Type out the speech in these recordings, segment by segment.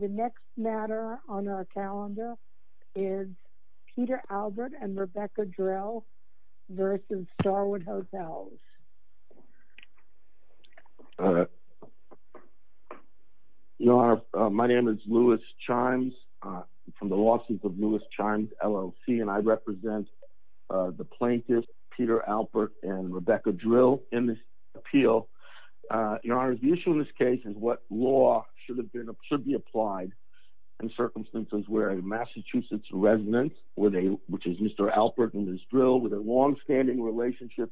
The next matter on our calendar is Peter Albert and Rebecca Drill v. Starwood Hotels. Your Honor, my name is Louis Chimes from the lawsuit of Louis Chimes LLC and I represent the plaintiffs Peter Albert and Rebecca Drill in this appeal. Your Honor, the issue in this case is what law should be applied in circumstances where a Massachusetts resident, which is Mr. Albert and Ms. Drill, with a long-standing relationship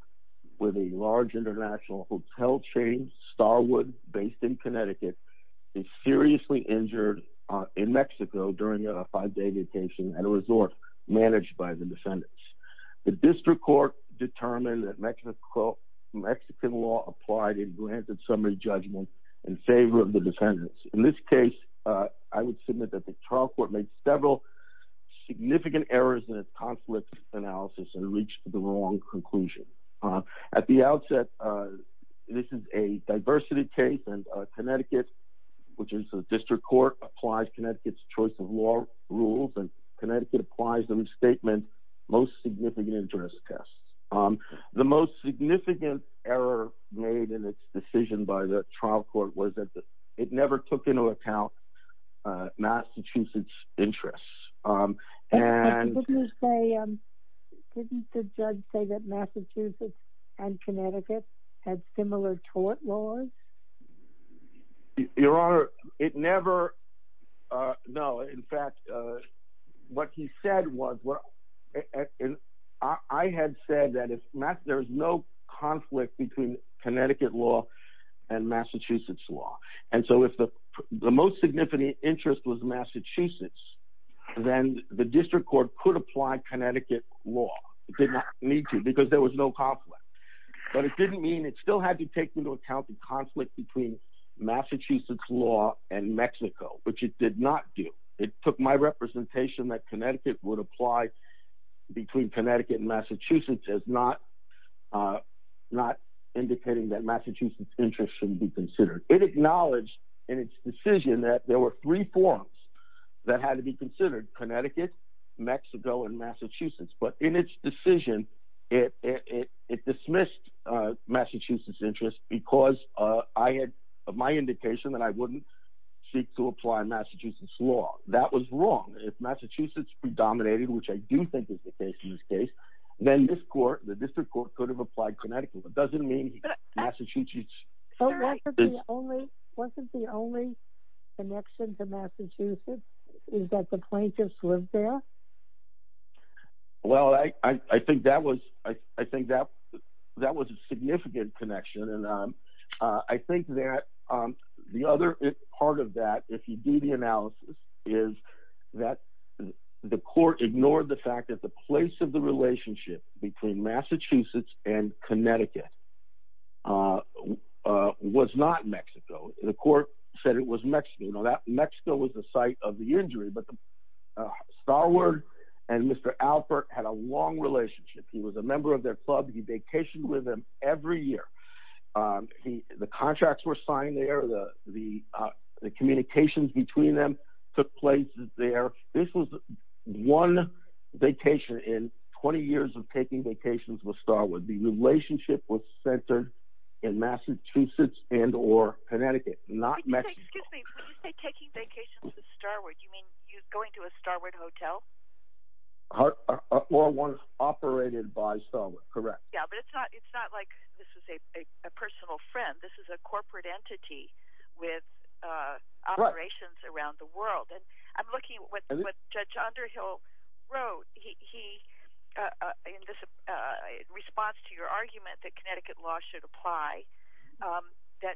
with a large international hotel chain, Starwood, based in Connecticut, is seriously injured in Mexico during a five-day vacation at a resort managed by the defendants. The district court determined that Mexican law applied in granted summary judgment in favor of the defendants. In this case, I would submit that the trial court made several significant errors in its conflict analysis and reached the wrong conclusion. At the outset, this is a diversity case and Connecticut, which is a district court, applies Connecticut's choice of law rules and Connecticut applies the misstatement, most significant interest tests. The most significant error made in its decision by the trial court was that it never took into account Massachusetts interests. Didn't the judge say that Massachusetts and Connecticut had similar tort laws? Your Honor, it never... No, in fact, what he said was... I had said that there is no conflict between Connecticut law and Massachusetts law, and so if the most significant interest was Massachusetts, then the district court could apply Connecticut law. It did not need to because there was no conflict between Massachusetts law and Mexico, which it did not do. It took my representation that Connecticut would apply between Connecticut and Massachusetts as not indicating that Massachusetts interests shouldn't be considered. It acknowledged in its decision that there were three forms that had to be considered, Connecticut, Mexico, and Massachusetts, but in its decision, it dismissed Massachusetts interest because I had my indication that I wouldn't seek to apply Massachusetts law. That was wrong. If Massachusetts predominated, which I do think is the case in this case, then this court, the district court, could have applied Connecticut. It doesn't mean Massachusetts... Wasn't the only connection to Massachusetts is that the plaintiffs lived there? Well, I think that was a significant connection, and I think that the other part of that, if you do the analysis, is that the court ignored the fact that the place of the relationship between Massachusetts and Connecticut was not Mexico. The court said it was Mexico. Mexico was the site of the injury, but Starwood and Mr. Alpert had a long relationship. He was a member of their club. He vacationed with them every year. The contracts were signed there. The communications between them took place there. This was one vacation in 20 years of taking vacations with Starwood. The relationship was Massachusetts and or Connecticut, not Mexico. Excuse me. When you say taking vacations with Starwood, you mean going to a Starwood hotel? Or one operated by Starwood, correct. Yeah, but it's not like this is a personal friend. This is a corporate entity with operations around the world. I'm looking at what Judge Underhill wrote in response to your question. He said that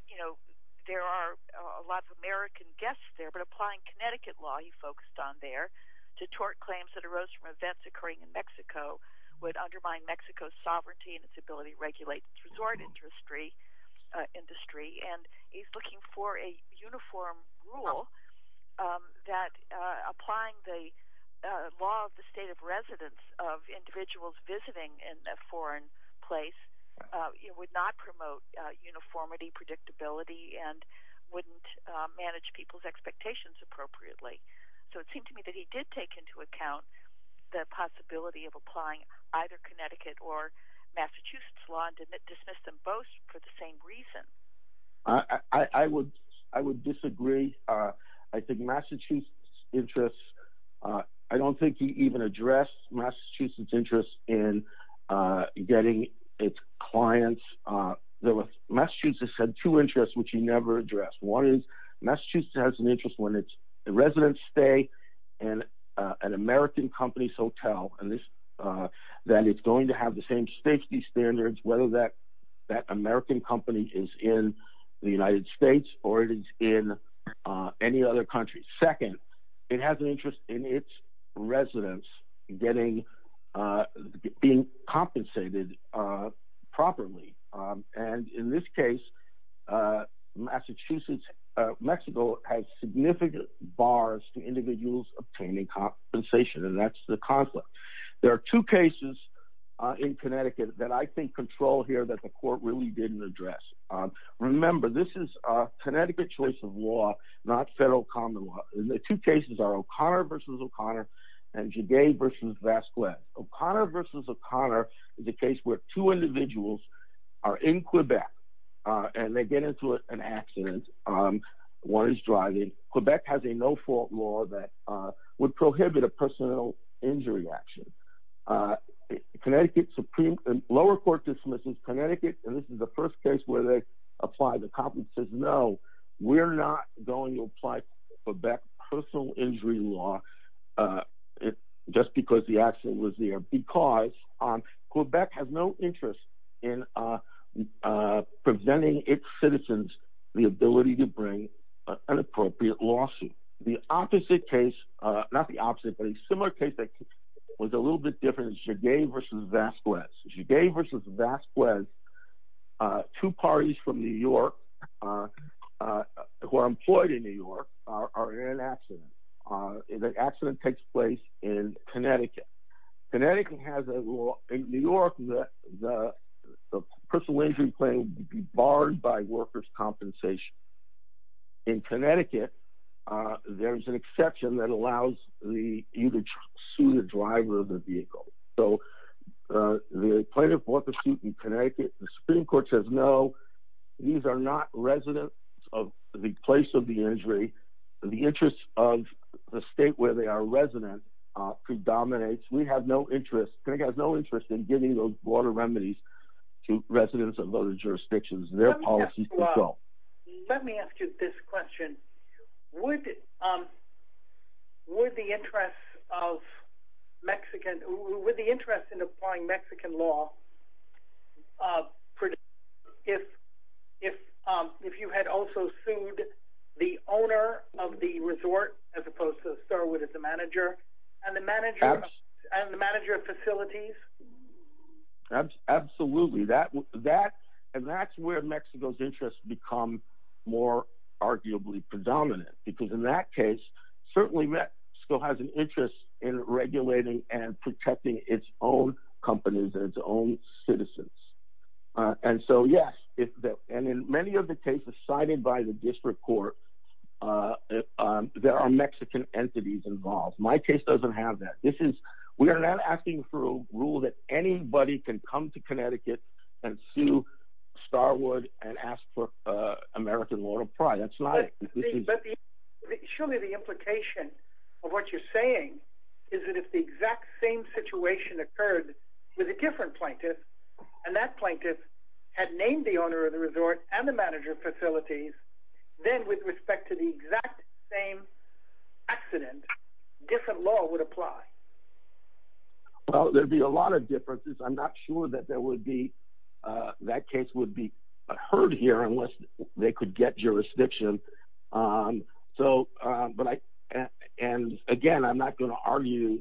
there are a lot of American guests there, but applying Connecticut law, he focused on there, to tort claims that arose from events occurring in Mexico would undermine Mexico's sovereignty and its ability to regulate its resort industry. He's looking for a uniform rule that applying the law of the state of residence of individuals visiting in a foreign place would not promote uniformity, predictability, and wouldn't manage people's expectations appropriately. So it seemed to me that he did take into account the possibility of applying either Connecticut or Massachusetts law and dismissed them both for the same reason. I would disagree. I don't think he even addressed Massachusetts' interest in getting its clients. Massachusetts had two interests which he never addressed. One is Massachusetts has an interest when its residents stay in an American company's hotel and that it's going to have the same safety standards whether that American company is in the United States or it is in any other country. Second, it has an interest in its residents getting, being compensated properly. And in this case, Massachusetts, Mexico has significant bars to individuals obtaining compensation and that's the conflict. There are two cases in Connecticut that I think control here that the court really didn't address. Remember, this is a Connecticut choice of law, not federal common law. The two cases are O'Connor v. O'Connor and Jagay v. Vasquez. O'Connor v. O'Connor is a case where two individuals are in Quebec and they get into an accident. One is driving. Quebec has a no-fault law that would prohibit a personal injury action. Connecticut, lower court dismisses Connecticut and this is the first case where they apply the conflict says, no, we're not going to apply Quebec personal injury law just because the accident was there because Quebec has no interest in presenting its citizens the ability to bring an appropriate lawsuit. The opposite case, not the opposite, but a similar case that was a little bit different is Jagay v. Vasquez. Jagay v. Vasquez, two parties from New York who are employed in New York are in an accident. The accident takes place in Connecticut. Connecticut has a law in New York that the personal injury claim would be barred by workers' compensation. In Connecticut, there's an exception that allows you to sue the driver of the vehicle. The plaintiff brought the suit in Connecticut. The Supreme Court says, no, these are not residents of the place of the injury. The interest of the state where they are resident predominates. We have no interest, Connecticut has no interest in giving those water remedies to residents of other jurisdictions. Their policies don't. Let me ask you this question. Would the interest in applying Mexican law, if you had also sued the owner of the resort as opposed to the manager and the manager of Mexico, become more arguably predominant? In that case, Mexico has an interest in regulating and protecting its own companies and its own citizens. In many of the cases cited by the district court, there are Mexican entities involved. My case doesn't have that. We are not asking for a rule that anybody can come to Connecticut and sue Starwood and ask for American law to apply. Show me the implication of what you're saying is that if the exact same situation occurred with a different plaintiff, and that plaintiff had named the owner of the resort and the manager facilities, then with respect to the exact same accident, different law would apply. Well, there'd be a lot of differences. I'm not sure that that case would be heard here unless they could get jurisdiction. Again, I'm not going to argue.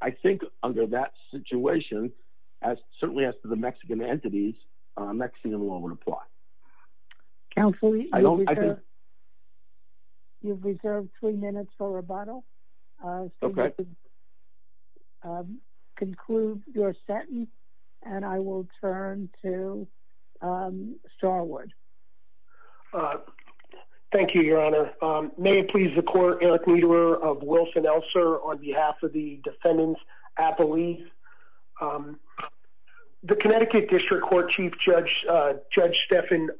I think under that situation, certainly as to the Mexican entities, Mexican law would apply. Counsel, you've reserved three minutes for rebuttal. Conclude your sentence, and I will turn to Starwood. Thank you, Your Honor. May it please the court, Eric Niederer of Wilson-Elser on behalf of the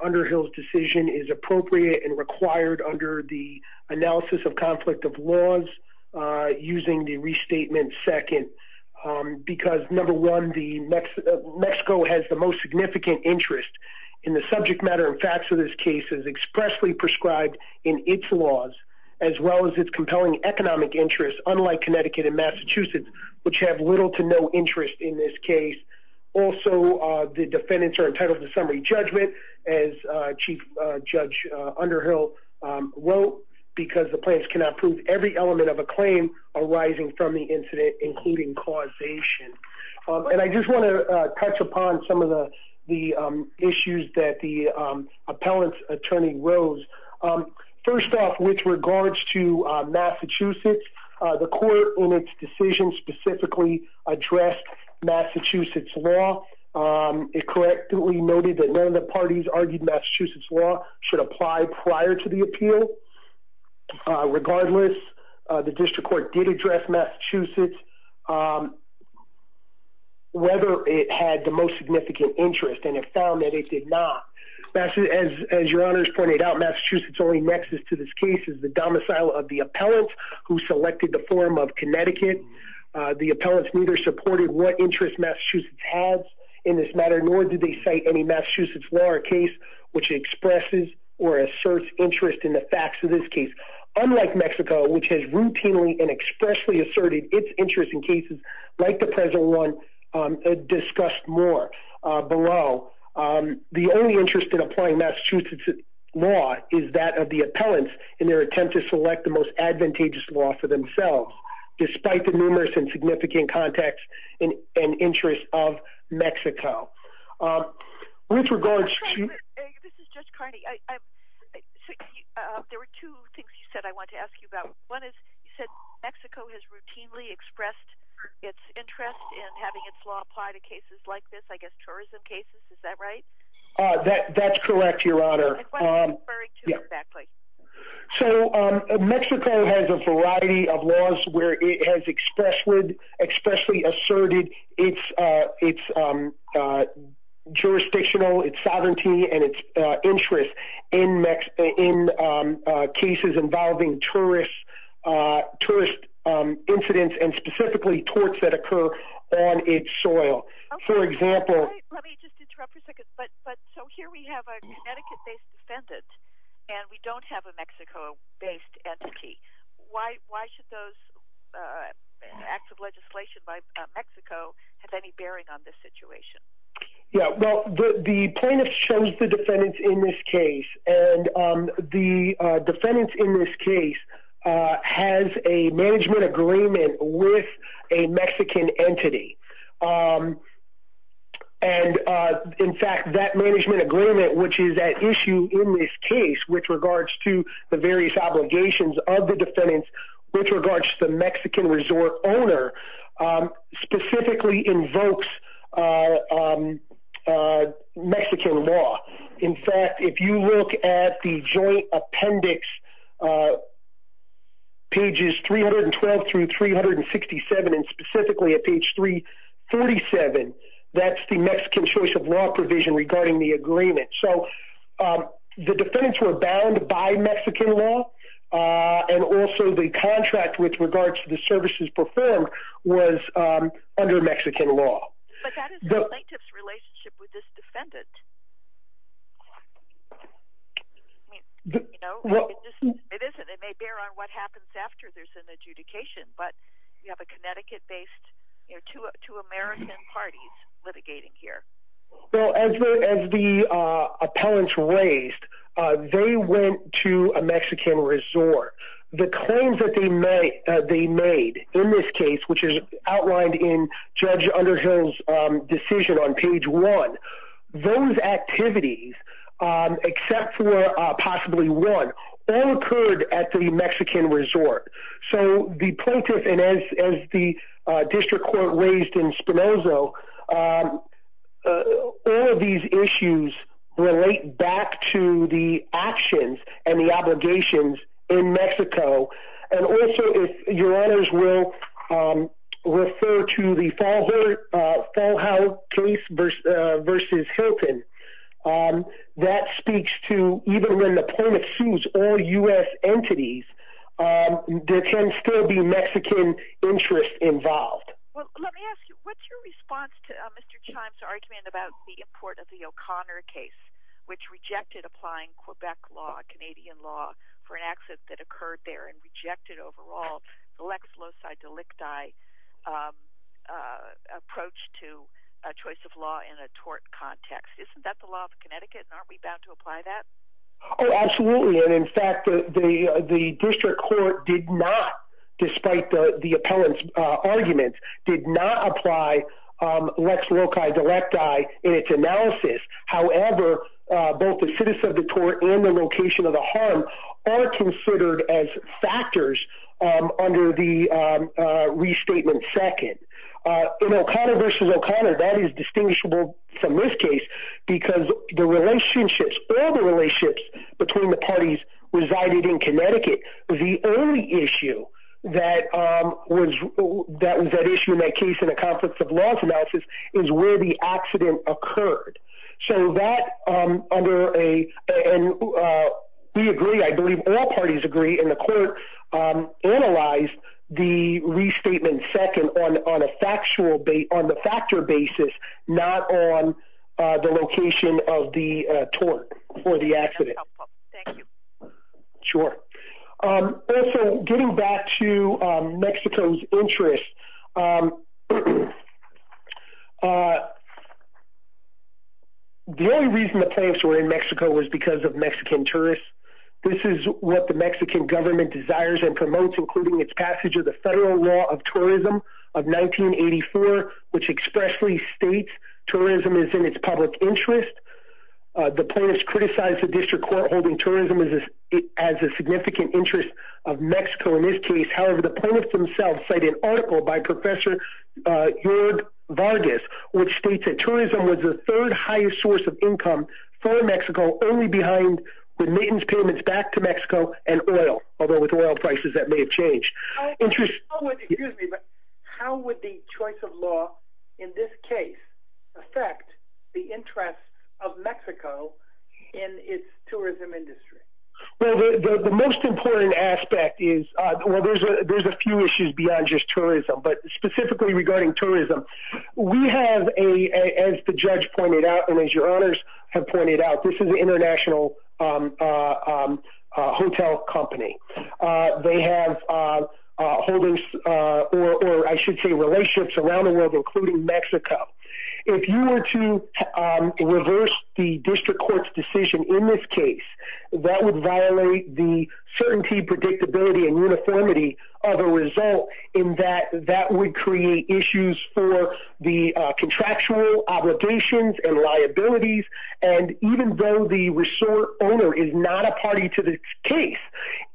under Hills decision is appropriate and required under the analysis of conflict of laws, using the restatement second, because number one, Mexico has the most significant interest in the subject matter and facts of this case is expressly prescribed in its laws, as well as its compelling economic interests, unlike Connecticut and Massachusetts, which have little to no as Chief Judge Underhill wrote, because the plans cannot prove every element of a claim arising from the incident, including causation. And I just want to touch upon some of the issues that the appellant's attorney rose. First off, with regards to Massachusetts, the court in its decision specifically addressed Massachusetts law. It correctly noted that none of the parties argued Massachusetts law should apply prior to the appeal. Regardless, the district court did address Massachusetts, whether it had the most significant interest, and it found that it did not. As Your Honor's pointed out, Massachusetts only nexus to this case is the domicile of the appellant who selected the form of Connecticut. The appellants neither supported what interest has in this matter, nor did they cite any Massachusetts law or case which expresses or asserts interest in the facts of this case, unlike Mexico, which has routinely and expressly asserted its interest in cases like the present one discussed more below. The only interest in applying Massachusetts law is that of the appellants in their attempt to select the most advantageous law for themselves, despite the numerous and significant context and interest of Mexico. With regards to- This is Judge Carney. There were two things you said I wanted to ask you about. One is, you said Mexico has routinely expressed its interest in having its law apply to cases like this, I guess tourism cases, is that right? That's correct, Your Honor. What are you referring to exactly? Mexico has a variety of laws where it has expressly asserted its jurisdictional sovereignty and its interest in cases involving tourist incidents, and specifically torts that occur on its soil. For example- Let me just interrupt for a second. Here we have a Connecticut-based defendant, and we don't have a Mexico-based entity. Why should those acts of legislation by Mexico have any bearing on this situation? The plaintiff chose the defendant in this case, and the defendant in this case has a management agreement with a Mexican entity. In fact, that management agreement, which is at issue in this case with regards to the various obligations of the defendants, with regards to the Mexican resort owner, specifically invokes Mexican law. In fact, if you look at the joint appendix on pages 312-367, and specifically at page 347, that's the Mexican choice of law provision regarding the agreement. The defendants were bound by Mexican law, and also the contract with regards to the services performed was under Mexican law. But that is the plaintiff's defendant. It may bear on what happens after there's an adjudication, but you have a Connecticut-based, two American parties litigating here. Well, as the appellants raised, they went to a Mexican resort. The claims that they made in this one, those activities, except for possibly one, all occurred at the Mexican resort. So the plaintiff, and as the district court raised in Spinoza, all of these issues relate back to the actions and the obligations in Mexico. And also, if your honors will refer to the case versus Hilton, that speaks to, even when the plaintiff sues all U.S. entities, there can still be Mexican interests involved. Well, let me ask you, what's your response to Mr. Chimes' argument about the import of the O'Connor case, which rejected applying Quebec law, Canadian law, for an exit that occurred there, and rejected overall the lex loci delicti approach to a choice of law in a tort context? Isn't that the law of Connecticut, and aren't we bound to apply that? Oh, absolutely. And in fact, the district court did not, despite the appellant's argument, did not apply lex loci delicti in its analysis. However, both the citizen of the tort and the actors under the restatement second. In O'Connor versus O'Connor, that is distinguishable from this case because the relationships, all the relationships between the parties resided in Connecticut. The only issue that was that issue in that case in the conflicts of law analysis is where the accident occurred. So that under a, and we agree, I believe all parties agree, and the court analyzed the restatement second on a factual, on the factor basis, not on the location of the tort for the accident. That's helpful. Thank you. Sure. Also, getting back to Mexico's interests, the only reason the plaintiffs were in Mexico was because of Mexican tourists. This is what the Mexican government desires and promotes, including its passage of the Federal Law of Tourism of 1984, which expressly states tourism is in its public interest. The plaintiffs criticized the district court holding tourism as a significant interest of Mexico in this case. However, the plaintiffs themselves cite an article by Professor Vargas, which states that tourism was the third highest source of income for Mexico, only behind the maintenance payments back to Mexico and oil, although with oil prices, that may have changed. How would the choice of law in this case affect the interests of Mexico in its tourism industry? Well, the most important aspect is, well, there's a few issues beyond just tourism, but specifically regarding tourism, we have a, as the judge pointed out, and as your honors have pointed out, this is an international hotel company. They have holdings, or I should say, relationships around the world, including Mexico. If you were to reverse the district court's decision in this case, that would violate the certainty, predictability, and uniformity of a and even though the resort owner is not a party to the case,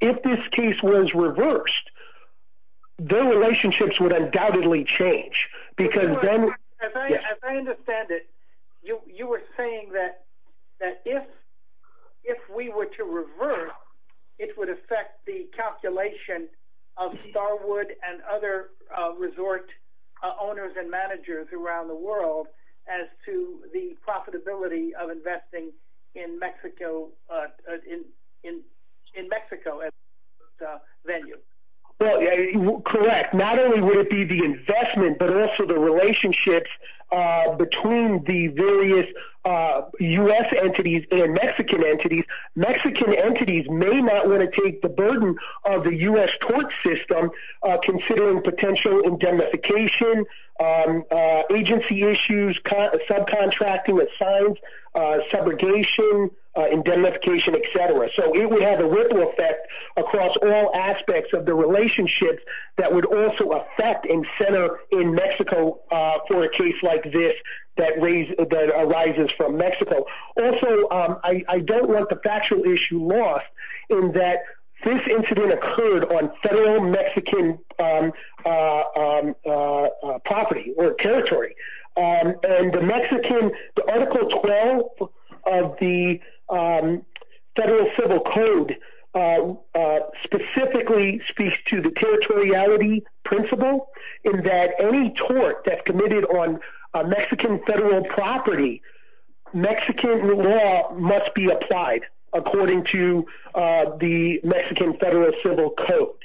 if this case was reversed, their relationships would undoubtedly change. As I understand it, you were saying that if we were to reverse, it would affect the calculation of Starwood and other resort owners and managers around the world as to the profitability of investing in Mexico as a venue. Well, correct. Not only would it be the investment, but also the relationships between the various US entities and Mexican entities. Mexican entities may not want to take the burden of the US court system, considering potential indemnification, agency issues, subcontracting with signs, segregation, indemnification, etc. It would have a ripple effect across all aspects of the relationships that would also affect and center in Mexico for a case like this that arises from Mexico. Also, I don't want the factual issue lost in that this incident occurred on federal Mexican property or territory. The article 12 of the Federal Civil Code specifically speaks to the territoriality principle in that any tort that's committed on Mexican federal property, Mexican law must be the Mexican Federal Civil Code.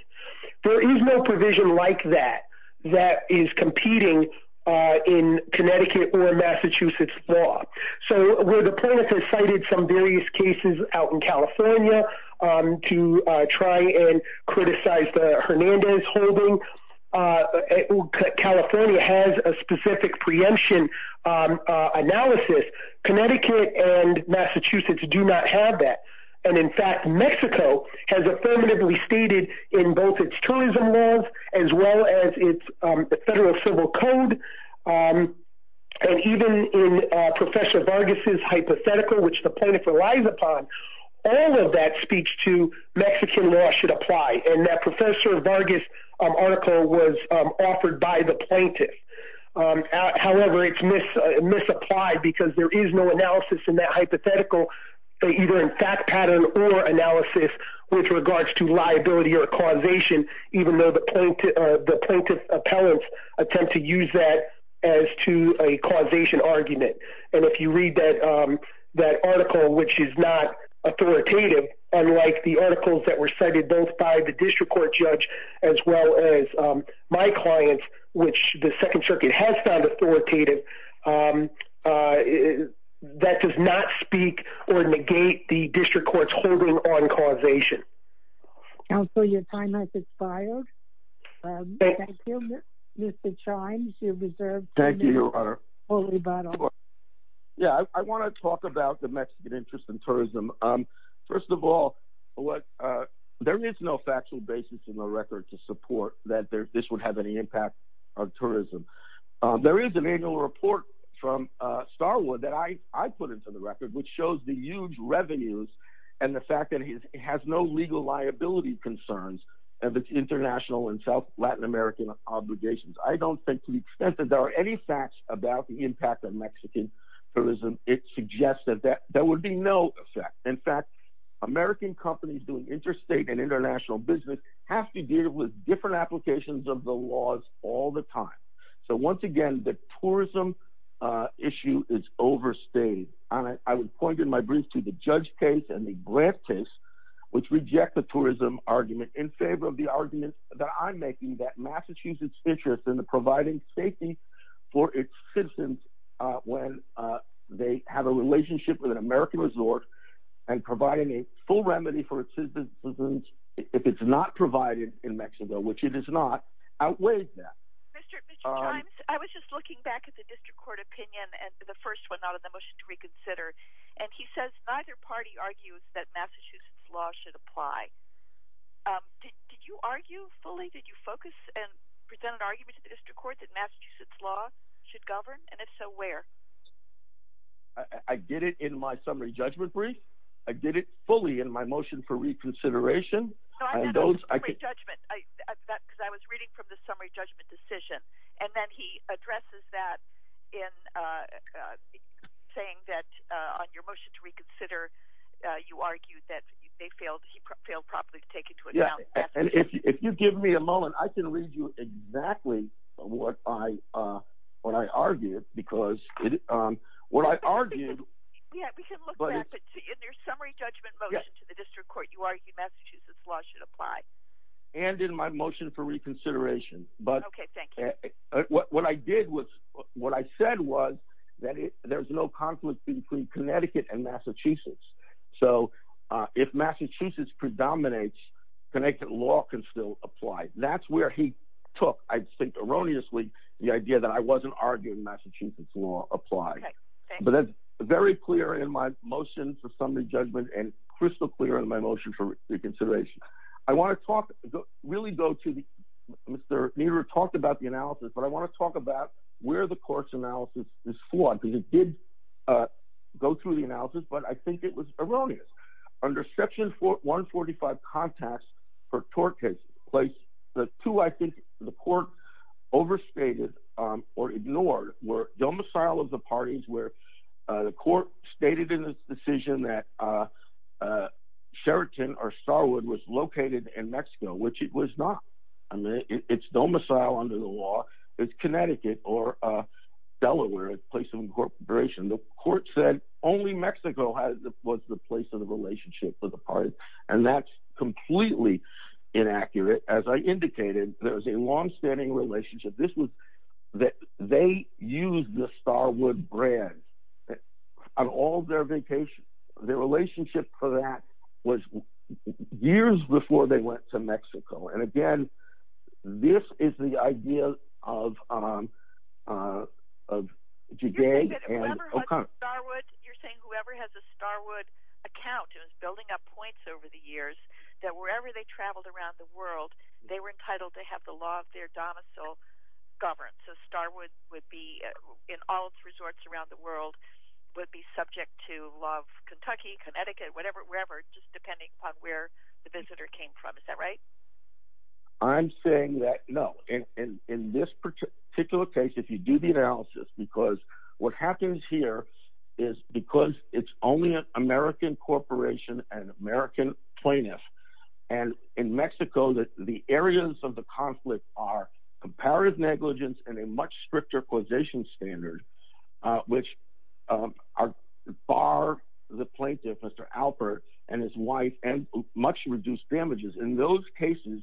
There is no provision like that that is competing in Connecticut or Massachusetts law. So, where the plaintiff has cited some various cases out in California to try and criticize the Hernandez holding, California has a specific preemption analysis. Connecticut and Massachusetts do not have that. In fact, Mexico has affirmatively stated in both its tourism laws as well as its Federal Civil Code and even in Professor Vargas' hypothetical, which the plaintiff relies upon, all of that speech to Mexican law should apply. That Professor Vargas article was offered by the plaintiff. However, it's misapplied because there is no analysis in that hypothetical, either in fact pattern or analysis, with regards to liability or causation, even though the plaintiff appellants attempt to use that as to a causation argument. And if you read that article, which is not authoritative, unlike the articles that were cited both by the plaintiff and the plaintiff, that does not speak or negate the district court's holding on causation. Counsel, your time has expired. Thank you. Mr. Chimes, you're reserved. Yeah, I want to talk about the Mexican interest in tourism. First of all, there is no factual basis in the record to support that this would have any impact on tourism. There is an annual report from Starwood that I put into the record, which shows the huge revenues and the fact that it has no legal liability concerns of its international and South Latin American obligations. I don't think to the extent that there are any facts about the impact of Mexican tourism, it suggests that there would be no effect. In fact, American companies doing interstate and international business have to deal with different applications of the laws all the time. So once again, the tourism issue is overstated. I would point in my brief to the judge case and the grant case, which reject the tourism argument in favor of the argument that I'm making that Massachusetts interests in the providing safety for its citizens when they have a relationship with an American resort and providing a full remedy for its citizens if it's not provided in Mexico, which it is not outweighed that. I was just looking back at the district court opinion and the first one out of the motion to reconsider. And he says neither party argues that Massachusetts law should apply. Did you argue fully? Did you focus and present an argument to the district court that Massachusetts law should govern? And if so, where? I did it in my summary judgment brief. I did it fully in my motion for reconsideration. No, I meant the summary judgment, because I was reading from the summary judgment decision. And then he addresses that in saying that on your motion to reconsider, you argued that they failed, he failed properly to take into account. Yeah. And if you give me a moment, I can read you exactly what I argued because what I argued, but in your summary judgment motion to the district court, you argued Massachusetts law should apply. And in my motion for reconsideration, but what I did was what I said was that there's no conflict between Connecticut and Massachusetts. So if Massachusetts predominates, Connecticut law can still apply. That's where he took, I think erroneously, the idea that I wasn't arguing Massachusetts law apply. But that's very clear in my motion for summary judgment and crystal clear in my motion for reconsideration. I want to talk, really go to the, Mr. Nero talked about the analysis, but I want to talk about where the court's analysis is flawed because it did go through the analysis, but I think it was overstated or ignored were domicile of the parties where the court stated in this decision that Sheraton or Starwood was located in Mexico, which it was not. I mean, it's domicile under the law, it's Connecticut or Delaware place of incorporation. The court said only Mexico was the place of the relationship for the party. And that's completely inaccurate. As I indicated, there was a longstanding relationship. This was that they use the Starwood brand on all their vacations. The relationship for that was years before they went to Mexico. And again, this is the idea of of today. You're saying whoever has a Starwood account is building up points over the years that wherever they traveled around the world, they were entitled to have the law of their domicile governed. So Starwood would be in all its resorts around the world would be subject to law of Kentucky, Connecticut, whatever, wherever, just depending on where the visitor came from. Is that right? I'm saying that no, in this particular case, if you do the analysis, because what happens here is because it's only an American corporation and American plaintiff. And in Mexico, the areas of the conflict are comparative negligence and a much stricter causation standard, which are far the plaintiff, Mr. Alpert and his wife and much reduced damages in those cases,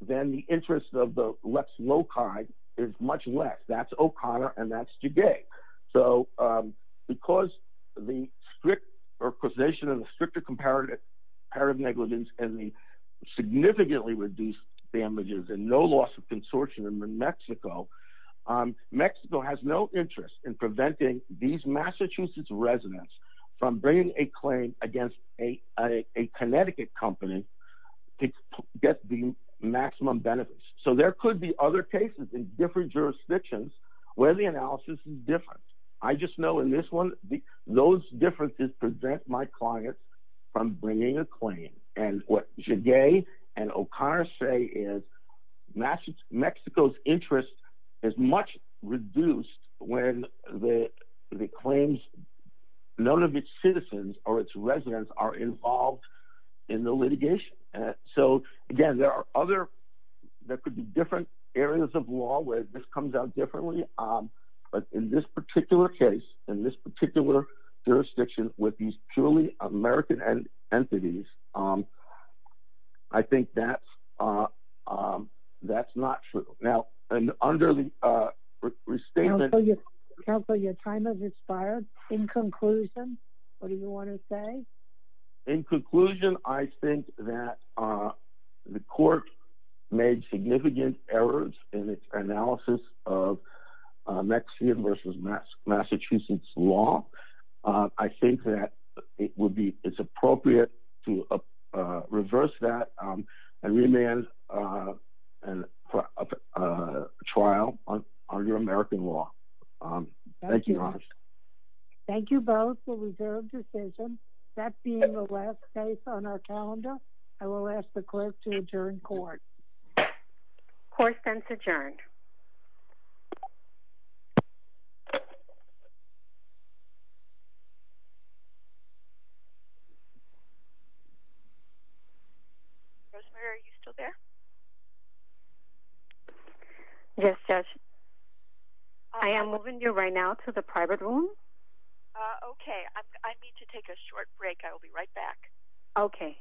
then the interest of the less loci is much less that's O'Connor and that's today. So because the strict or causation of the stricter comparative negligence and the significantly reduced damages and no loss of consortium in Mexico, Mexico has no interest in preventing these Massachusetts residents from bringing a claim against a Connecticut company to get the maximum benefits. So there could be other cases in different jurisdictions where the analysis is different. I just know in this one, those differences present my clients from bringing a claim. And what should gay and O'Connor say is Mexico's interest is much reduced when the claims none of its citizens or its residents are involved in the litigation. So again, there are other, there could be different areas of law where this comes out differently. But in this particular case, in this particular jurisdiction with these purely American entities, I think that's not true. Now, and under the restatement... Counselor, your time has expired. In conclusion, what do you want to say? In conclusion, I think that the court made significant errors in its analysis of Mexican versus Massachusetts law. I think that it would be, it's appropriate to reverse that and remand a trial on your American law. Thank you, Your Honor. Thank you both for reserved decision. That being the last case on our calendar, I will ask the clerk to adjourn court. Court then is adjourned. Rosemary, are you still there? Yes, Judge. I am moving you right now to the private room. Okay. I need to take a short break. I will be right back. Okay. Thank you.